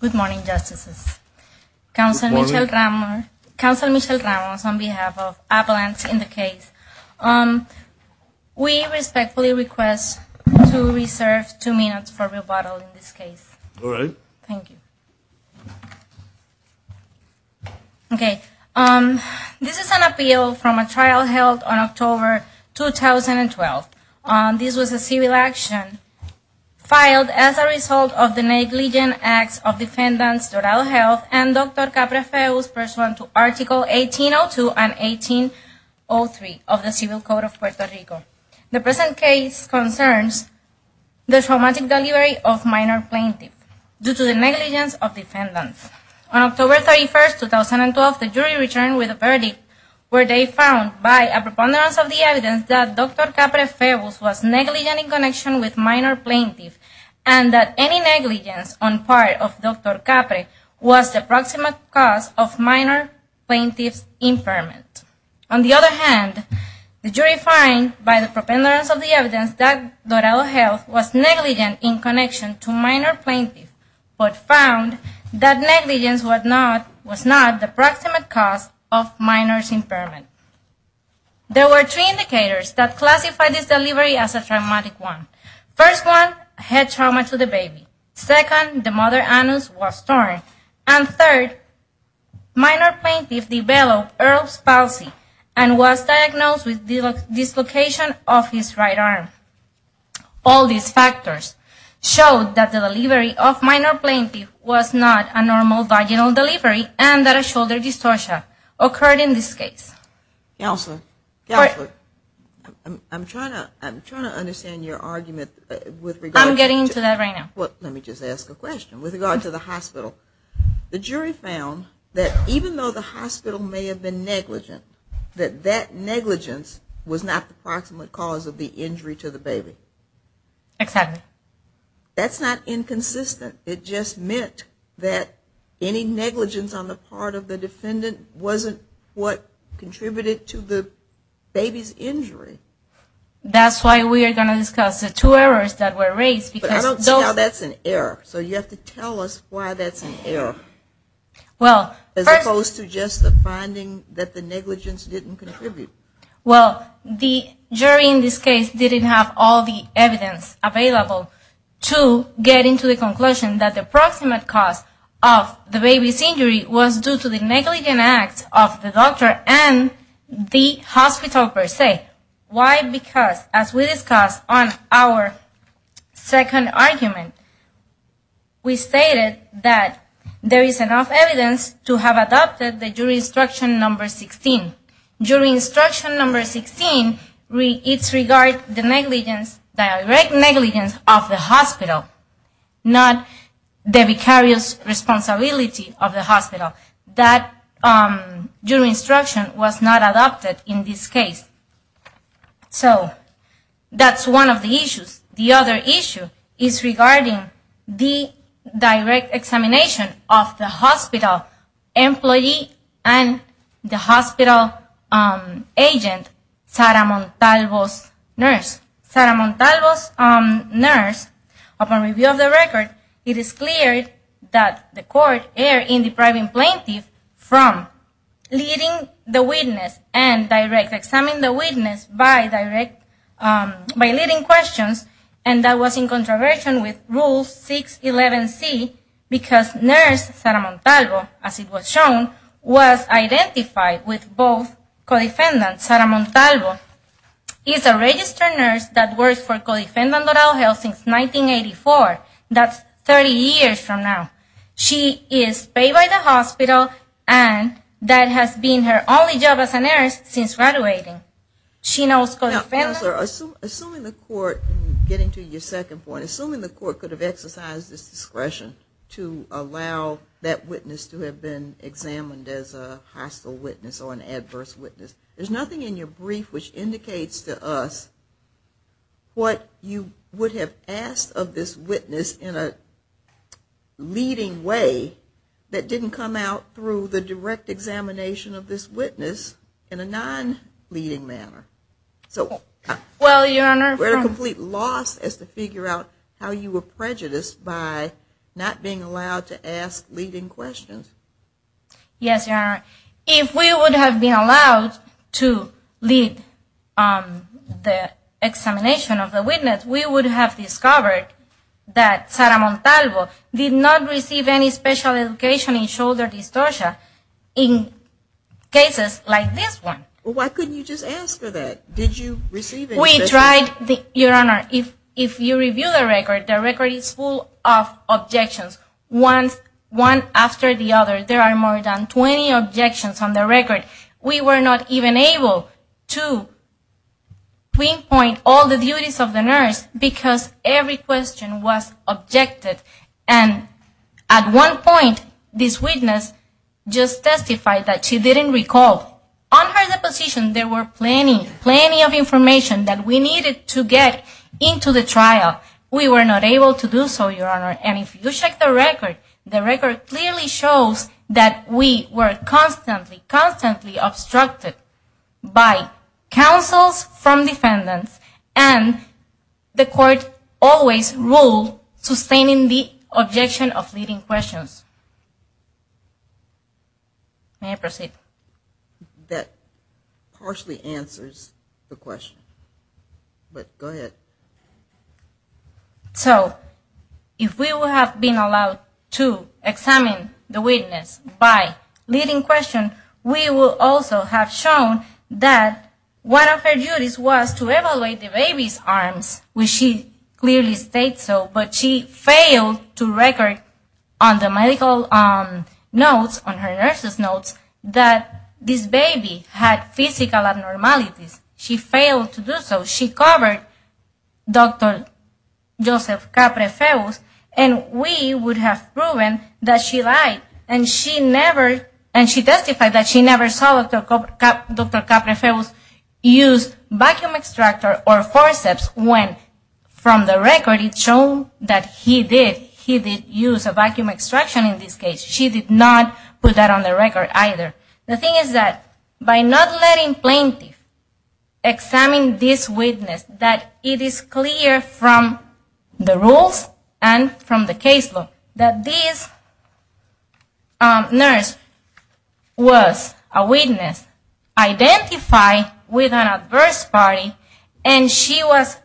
Good morning, Justices, Councilor Michel Ramos on behalf of Avalanche in the case. We respectfully request to reserve two minutes for rebuttal in this case. All right. Thank you. Okay. This is an appeal from a trial held on October 2012. This was a civil action filed as a result of the negligent acts of defendants Dorado Health and Dr. Caprafeu's pursuant to Article 1802 and 1803 of the Civil Code of Puerto Rico. The present case concerns the traumatic delivery of minor plaintiff due to the negligence of defendants. On October 31, 2012, the jury returned with a verdict where they found by a preponderance of the evidence that Dr. Caprafeu was negligent in connection with minor plaintiff and that any negligence on part of Dr. Caprafeu was the proximate cause of minor plaintiff's impairment. On the other hand, the jury found by the preponderance of the evidence that Dorado Health was negligent in connection to minor plaintiff, but found that negligence was not the proximate cause of minor's impairment. There were three indicators that classified this delivery as a traumatic one. First one, head trauma to the baby. Second, the mother, Anus, was torn. And third, minor plaintiff developed Earl's palsy and was diagnosed with dislocation of his right arm. All these factors showed that the delivery of minor plaintiff was not a normal vaginal delivery and that a shoulder dystocia occurred in this case. Counselor, I'm trying to understand your argument. I'm getting to that right now. Let me just ask a question. With regard to the hospital, the jury found that even though the hospital may have been negligent, that that negligence was not the proximate cause of the injury to the baby. Exactly. That's not inconsistent. It just meant that any negligence on the part of the defendant wasn't what contributed to the baby's injury. That's why we are going to discuss the two errors that were raised. But I don't see how that's an error. So you have to tell us why that's an error as opposed to just the finding that the negligence didn't contribute. Well, the jury in this case didn't have all the evidence available to get into the conclusion that the proximate cause of the baby's injury was due to the negligent act of the doctor and the hospital per se. Why? Because as we discussed on our second argument, we stated that there is enough evidence to have adopted the jury instruction number 16. Jury instruction number 16, it regards the direct negligence of the hospital, not the vicarious responsibility of the hospital. That jury instruction was not adopted in this case. So that's one of the issues. The other issue is regarding the direct examination of the hospital employee and the hospital agent, Sara Montalvo's nurse. Upon review of the record, it is clear that the court erred in depriving the plaintiff from leading the witness and direct examining the witness by leading questions. And that was in controversy with Rule 611C because nurse Sara Montalvo, as it was shown, was identified with both co-defendants. Sara Montalvo is a registered nurse that works for co-defendant Lodal Health since 1984. That's 30 years from now. She is paid by the hospital and that has been her only job as a nurse since graduating. Assuming the court, getting to your second point, assuming the court could have exercised this discretion to allow that witness to have been examined as a hostile witness or an adverse witness, there's nothing in your brief which indicates to us what you would have asked of this witness in a leading way that didn't come out through the direct examination of this witness in a non-leading manner. So we're at a complete loss as to figure out how you were prejudiced by not being allowed to ask leading questions. Yes, Your Honor. If we would have been allowed to lead the examination of the witness, we would have discovered that Sara Montalvo did not receive any special education in shoulder dystocia in cases like this one. Well, why couldn't you just ask her that? We tried, Your Honor. If you review the record, the record is full of objections. One after the other, there are more than 20 objections on the record. We were not even able to pinpoint all the duties of the nurse because every question was objected. And at one point, this witness just testified that she didn't recall. On her deposition, there was plenty of information that we needed to get into the trial. We were not able to do so, Your Honor. And if you check the record, the record clearly shows that we were constantly, constantly obstructed by counsels from defendants and the court always ruled, sustaining the objection of leading questions. May I proceed? That partially answers the question. But go ahead. So, if we would have been allowed to examine the witness by leading question, we would also have shown that one of her duties was to evaluate the baby's arms, which she clearly states so, but she failed to record on the medical notes, on her nurse's notes, that this baby had physical abnormalities. She failed to do so. She covered Dr. Joseph Caprefeu and we would have proven that she lied. And she testified that she never saw Dr. Caprefeu use vacuum extractor or forceps when, from the record, it's shown that he did use a vacuum extraction in this case. She did not put that on the record either. The thing is that by not letting plaintiff examine this witness, that it is clear from the rules and from the case law that this nurse was a witness identified with an adverse party and she was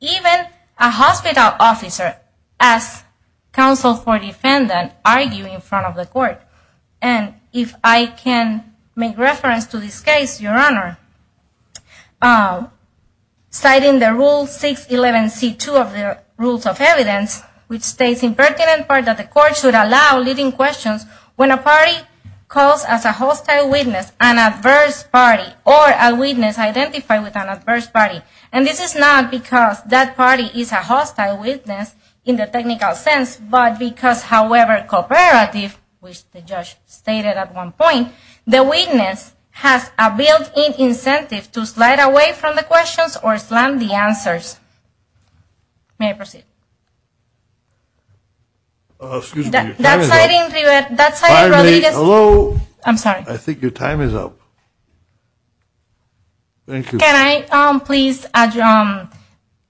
even a hospital officer as counsel for defendant arguing in front of the court. And if I can make reference to this case, Your Honor, citing the Rule 611C2 of the Rules of Evidence, which states in pertinent part that the court should allow leading questions when a party calls as a hostile witness an adverse party or a witness identified with an adverse party. And this is not because that party is a hostile witness in the technical sense, but because, however, cooperative, which the judge stated at one point, the witness has a built-in incentive to slide away from the questions or slam the answers. May I proceed? Excuse me, your time is up. That's citing, that's citing religious... Pardon me, hello? I think your time is up. Thank you. Can I please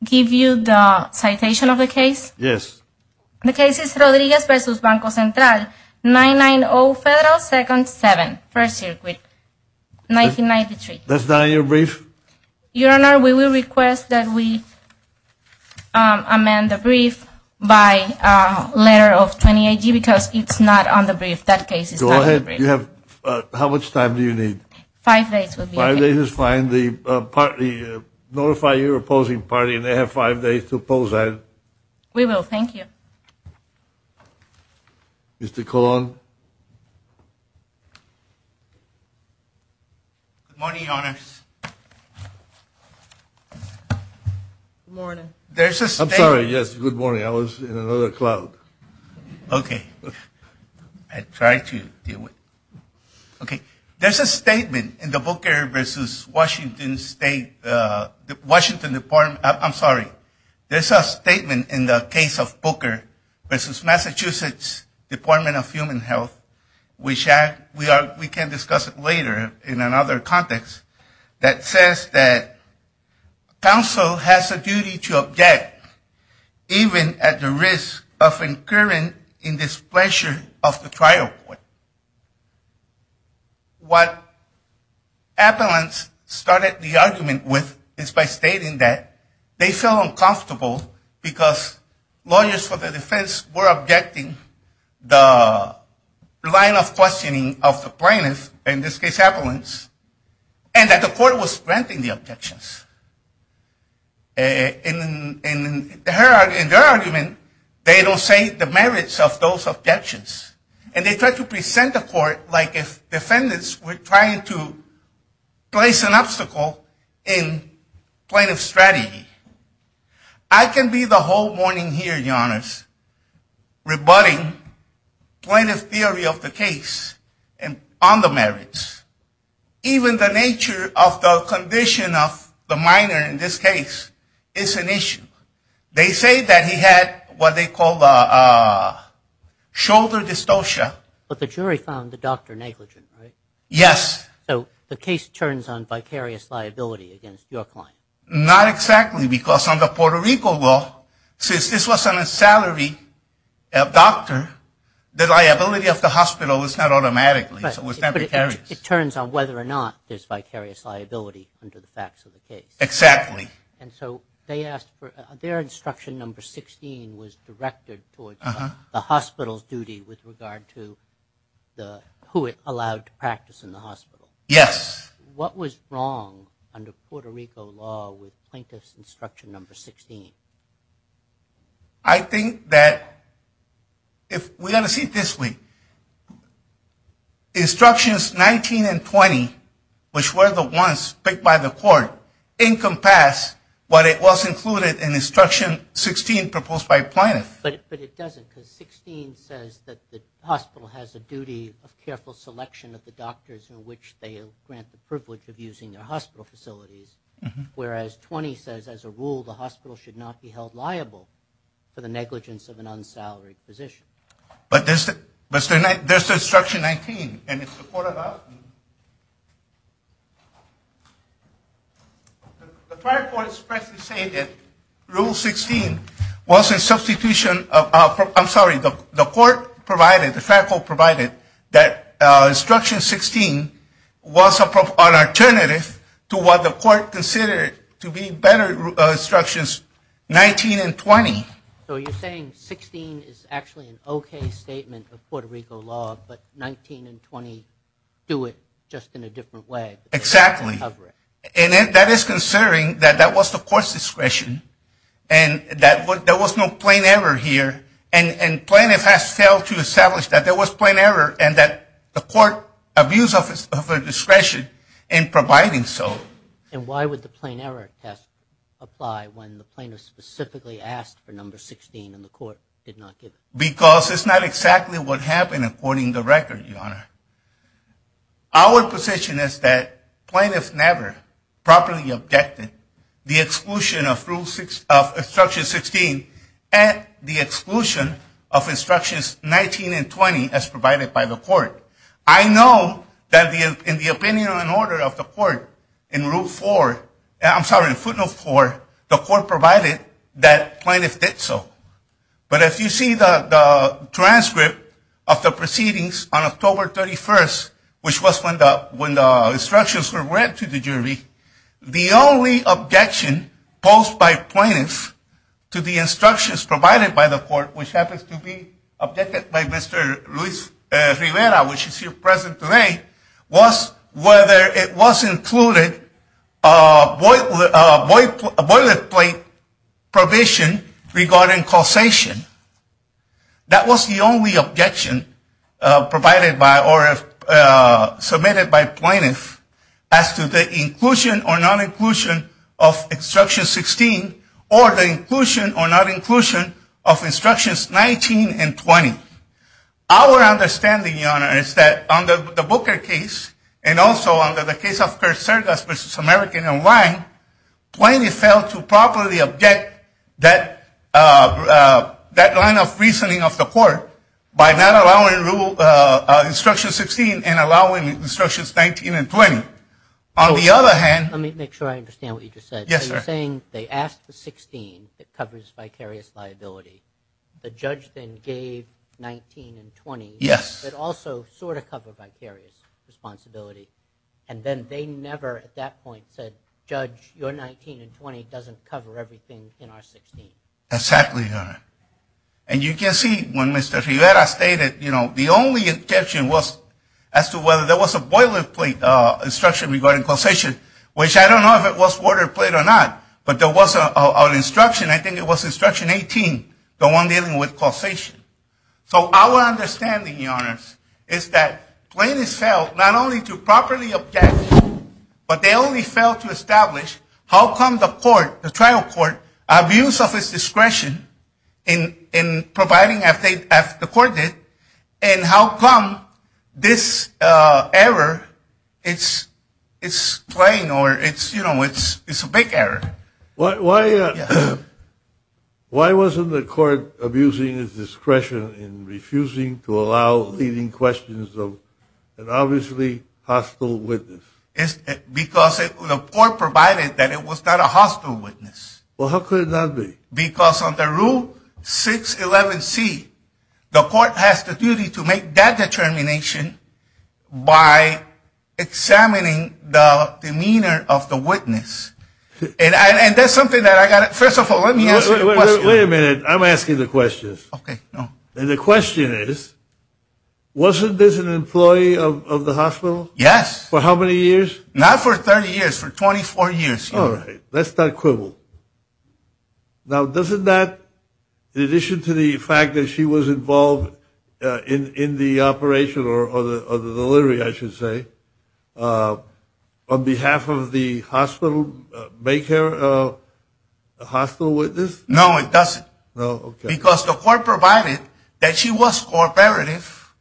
give you the citation of the case? Yes. The case is Rodriguez v. Banco Central, 990 Federal Second 7, First Circuit, 1993. That's not in your brief? Your Honor, we will request that we amend the brief by a letter of 20 AG because it's not on the brief. That case is not on the brief. Go ahead. Five days would be okay. Five days is fine. Notify your opposing party and they have five days to oppose that. We will. Thank you. Mr. Colon? Good morning, Your Honors. Good morning. I'm sorry. Yes, good morning. I was in another cloud. Okay. I tried to deal with... Okay. There's a statement in the Booker v. Washington State... Washington Department... I'm sorry. There's a statement in the case of Booker v. Massachusetts Department of Human Health, which we can discuss later in another context, that says that counsel has a duty to object even at the risk of incurring in displeasure of the trial court. What Appellants started the argument with is by stating that they felt uncomfortable because lawyers for the defense were objecting the line of questioning of the plaintiff, in this case Appellants, and that the court was granting the objections. In their argument, they don't say the merits of those objections. And they tried to present the court like if defendants were trying to place an obstacle in plaintiff's strategy. I can be the whole morning here, your honors, rebutting plaintiff's theory of the case on the merits. Even the nature of the condition of the minor in this case is an issue. They say that he had what they call shoulder dystocia. But the jury found the doctor negligent, right? Yes. So the case turns on vicarious liability against your client. Not exactly, because under Puerto Rico law, since this wasn't a salary doctor, the liability of the hospital was not automatically, so it was not vicarious. But it turns on whether or not there's vicarious liability under the facts of the case. Exactly. And so they asked for, their instruction number 16 was directed towards the hospital's duty with regard to who it allowed to practice in the hospital. Yes. What was wrong under Puerto Rico law with plaintiff's instruction number 16? I think that if we got to see it this way, instructions 19 and 20, which were the ones picked by the court, encompass what was included in instruction 16 proposed by plaintiff. But it doesn't, because 16 says that the hospital has a duty of careful selection of the doctors in which they grant the privilege of using their hospital facilities. Whereas 20 says, as a rule, the hospital should not be held liable for the negligence of an unsalaried physician. But there's the instruction 19, and it's reported out. The trial court is presently saying that rule 16 was a substitution of, I'm sorry, the court provided, the trial court provided that instruction 16 was an alternative to what the court considered to be better instructions 19 and 20. So you're saying 16 is actually an okay statement of Puerto Rico law, but 19 and 20 do it just in a different way. Exactly. And that is considering that that was the court's discretion and that there was no plain error here. And plaintiff has failed to establish that there was plain error and that the court abused of its discretion in providing so. And why would the plain error test apply when the plaintiff specifically asked for number 16 and the court did not give it? Because it's not exactly what happened according to record, Your Honor. Our position is that plaintiffs never properly objected the exclusion of instruction 16 and the exclusion of instructions 19 and 20 as provided by the court. I know that in the opinion and order of the court in rule 4, I'm sorry, footnote 4, the court provided that plaintiff did so. But if you see the transcript of the proceedings on October 31st, which was when the instructions were read to the jury, the only objection posed by plaintiffs to the instructions provided by the court, which happens to be objected by Mr. Luis Rivera, which is here present today, was whether it was included a boilerplate provision regarding causation. That was the only objection submitted by plaintiffs as to the inclusion or non-inclusion of instructions 16 or the inclusion or non-inclusion of instructions 19 and 20. Our understanding, Your Honor, is that under the Booker case and also under the case of Kersergas v. American and Wang, plaintiffs failed to properly object that line of reasoning of the court by not allowing instruction 16 and allowing instructions 19 and 20. On the other hand... Let me make sure I understand what you just said. Yes, sir. You're saying they asked the 16 that covers vicarious liability. The judge then gave 19 and 20... Yes. ...that also sort of cover vicarious responsibility. And then they never at that point said, Judge, your 19 and 20 doesn't cover everything in our 16. Exactly, Your Honor. And you can see when Mr. Rivera stated, you know, the only objection was as to whether there was a boilerplate instruction regarding causation, which I don't know if it was boilerplate or not, but there was an instruction. I think it was instruction 18, the one dealing with causation. So our understanding, Your Honor, is that plaintiffs failed not only to properly object, but they only failed to establish how come the court, the trial court, abused of its discretion in providing, as the court did, and how come this error, it's plain or it's, you know, it's a big error. Why wasn't the court abusing its discretion in refusing to allow leading questions of an obviously hostile witness? Because the court provided that it was not a hostile witness. Well, how could it not be? Because under Rule 611C, the court has the duty to make that determination by examining the demeanor of the witness. And that's something that I got to, first of all, let me answer the question. Wait a minute. I'm asking the question. Okay. And the question is, wasn't this an employee of the hospital? Yes. For how many years? Not for 30 years. For 24 years, Your Honor. All right. That's not equivalent. Now, doesn't that, in addition to the fact that she was involved in the operation or the delivery, I should say, on behalf of the hospital, make her a hostile witness? No, it doesn't. No? Okay. Because the court provided that she was cooperative,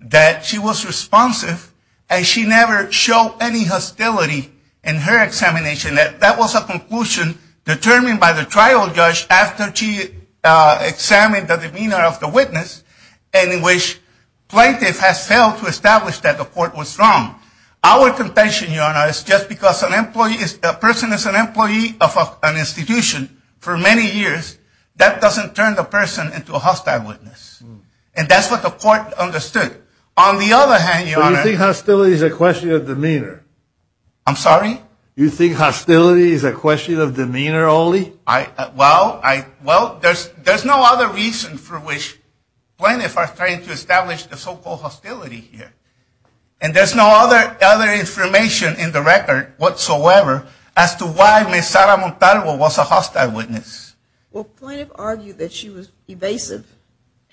that she was responsive, and she never showed any hostility in her examination. That was a conclusion determined by the trial judge after she examined the demeanor of the witness in which plaintiff has failed to establish that the court was wrong. Our contention, Your Honor, is just because a person is an employee of an institution for many years, that doesn't turn the person into a hostile witness. And that's what the court understood. On the other hand, Your Honor. So you think hostility is a question of demeanor? I'm sorry? You think hostility is a question of demeanor only? Well, there's no other reason for which plaintiffs are trying to establish the so-called hostility here. And there's no other information in the record whatsoever as to why Ms. Sara Montalvo was a hostile witness. Well, plaintiffs argue that she was evasive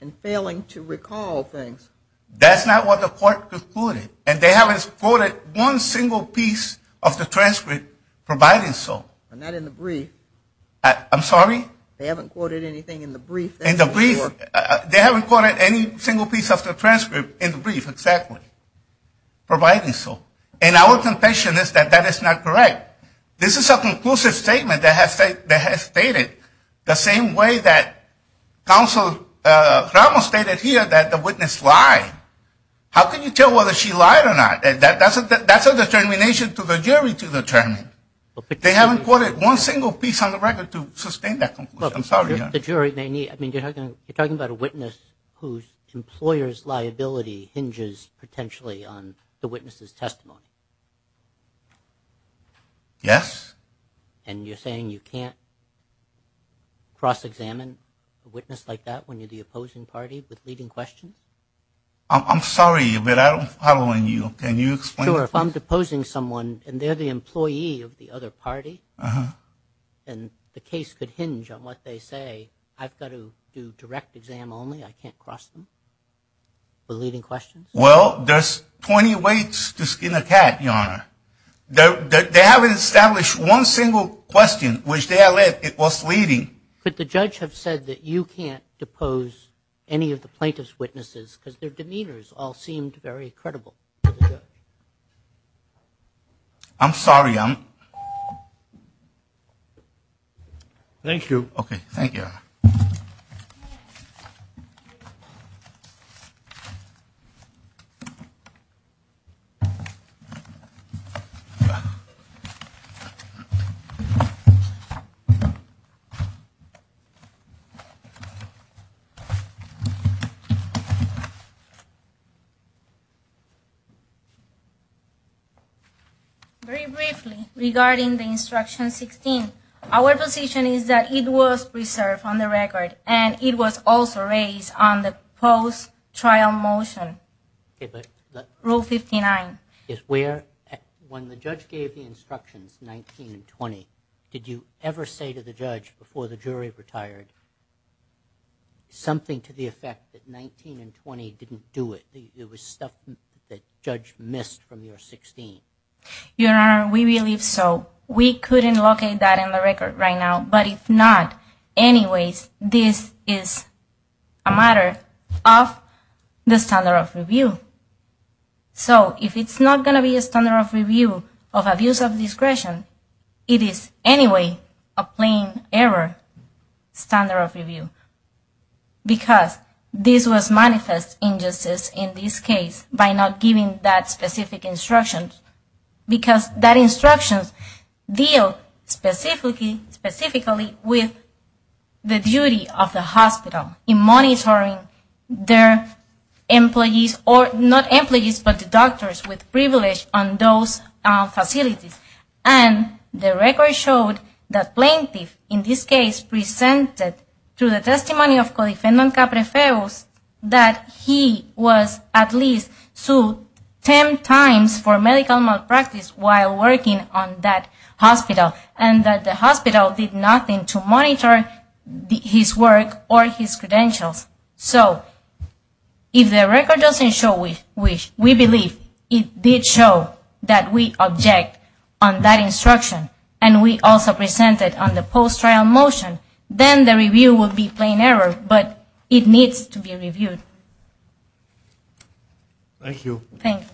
and failing to recall things. That's not what the court concluded. And they haven't quoted one single piece of the transcript providing so. Not in the brief. I'm sorry? They haven't quoted anything in the brief. They haven't quoted any single piece of the transcript in the brief, exactly, providing so. And our contention is that that is not correct. This is a conclusive statement that has stated the same way that Counsel Ramos stated here that the witness lied. How can you tell whether she lied or not? That's a determination to the jury to determine. They haven't quoted one single piece on the record to sustain that conclusion. I'm sorry. You're talking about a witness whose employer's liability hinges potentially on the witness's testimony. Yes. And you're saying you can't cross-examine a witness like that when you're the opposing party with leading questions? I'm sorry, but I'm following you. Can you explain? Sure. If I'm deposing someone and they're the employee of the other party, then the case could hinge on what they say. I've got to do direct exam only. I can't cross them with leading questions? Well, there's 20 ways to skin a cat, Your Honor. They haven't established one single question, which they have said it was leading. Could the judge have said that you can't depose any of the plaintiff's witnesses because their demeanors all seemed very credible? I'm sorry. Your Honor. Thank you. Okay. Thank you, Your Honor. Very briefly, regarding the Instruction 16, our position is that it was preserved on the record, and it was also raised on the post-trial motion, Rule 59. When the judge gave the instructions, 19 and 20, did you ever say to the judge before the jury retired something to the effect that 19 and 20 didn't do it? There was stuff that the judge missed from your 16. Your Honor, we believe so. We couldn't locate that in the record right now, but if not, anyways, this is a matter of the standard of review. So if it's not going to be a standard of review of abuse of discretion, it is anyway a plain error standard of review, because this was manifest injustice in this case by not giving that specific instruction, because that instruction deals specifically with the duty of the hospital in monitoring their employees, or not employees, but the doctors with privilege on those facilities. And the record showed that plaintiff, in this case, presented to the testimony of co-defendant Caprefeu, that he was at least sued 10 times for medical malpractice while working on that hospital, and that the hospital did nothing to monitor his work or his credentials. So if the record doesn't show, which we believe it did show that we object on that instruction, and we also presented on the post-trial motion, then the review would be plain error, but it needs to be reviewed. Thank you. Thank you.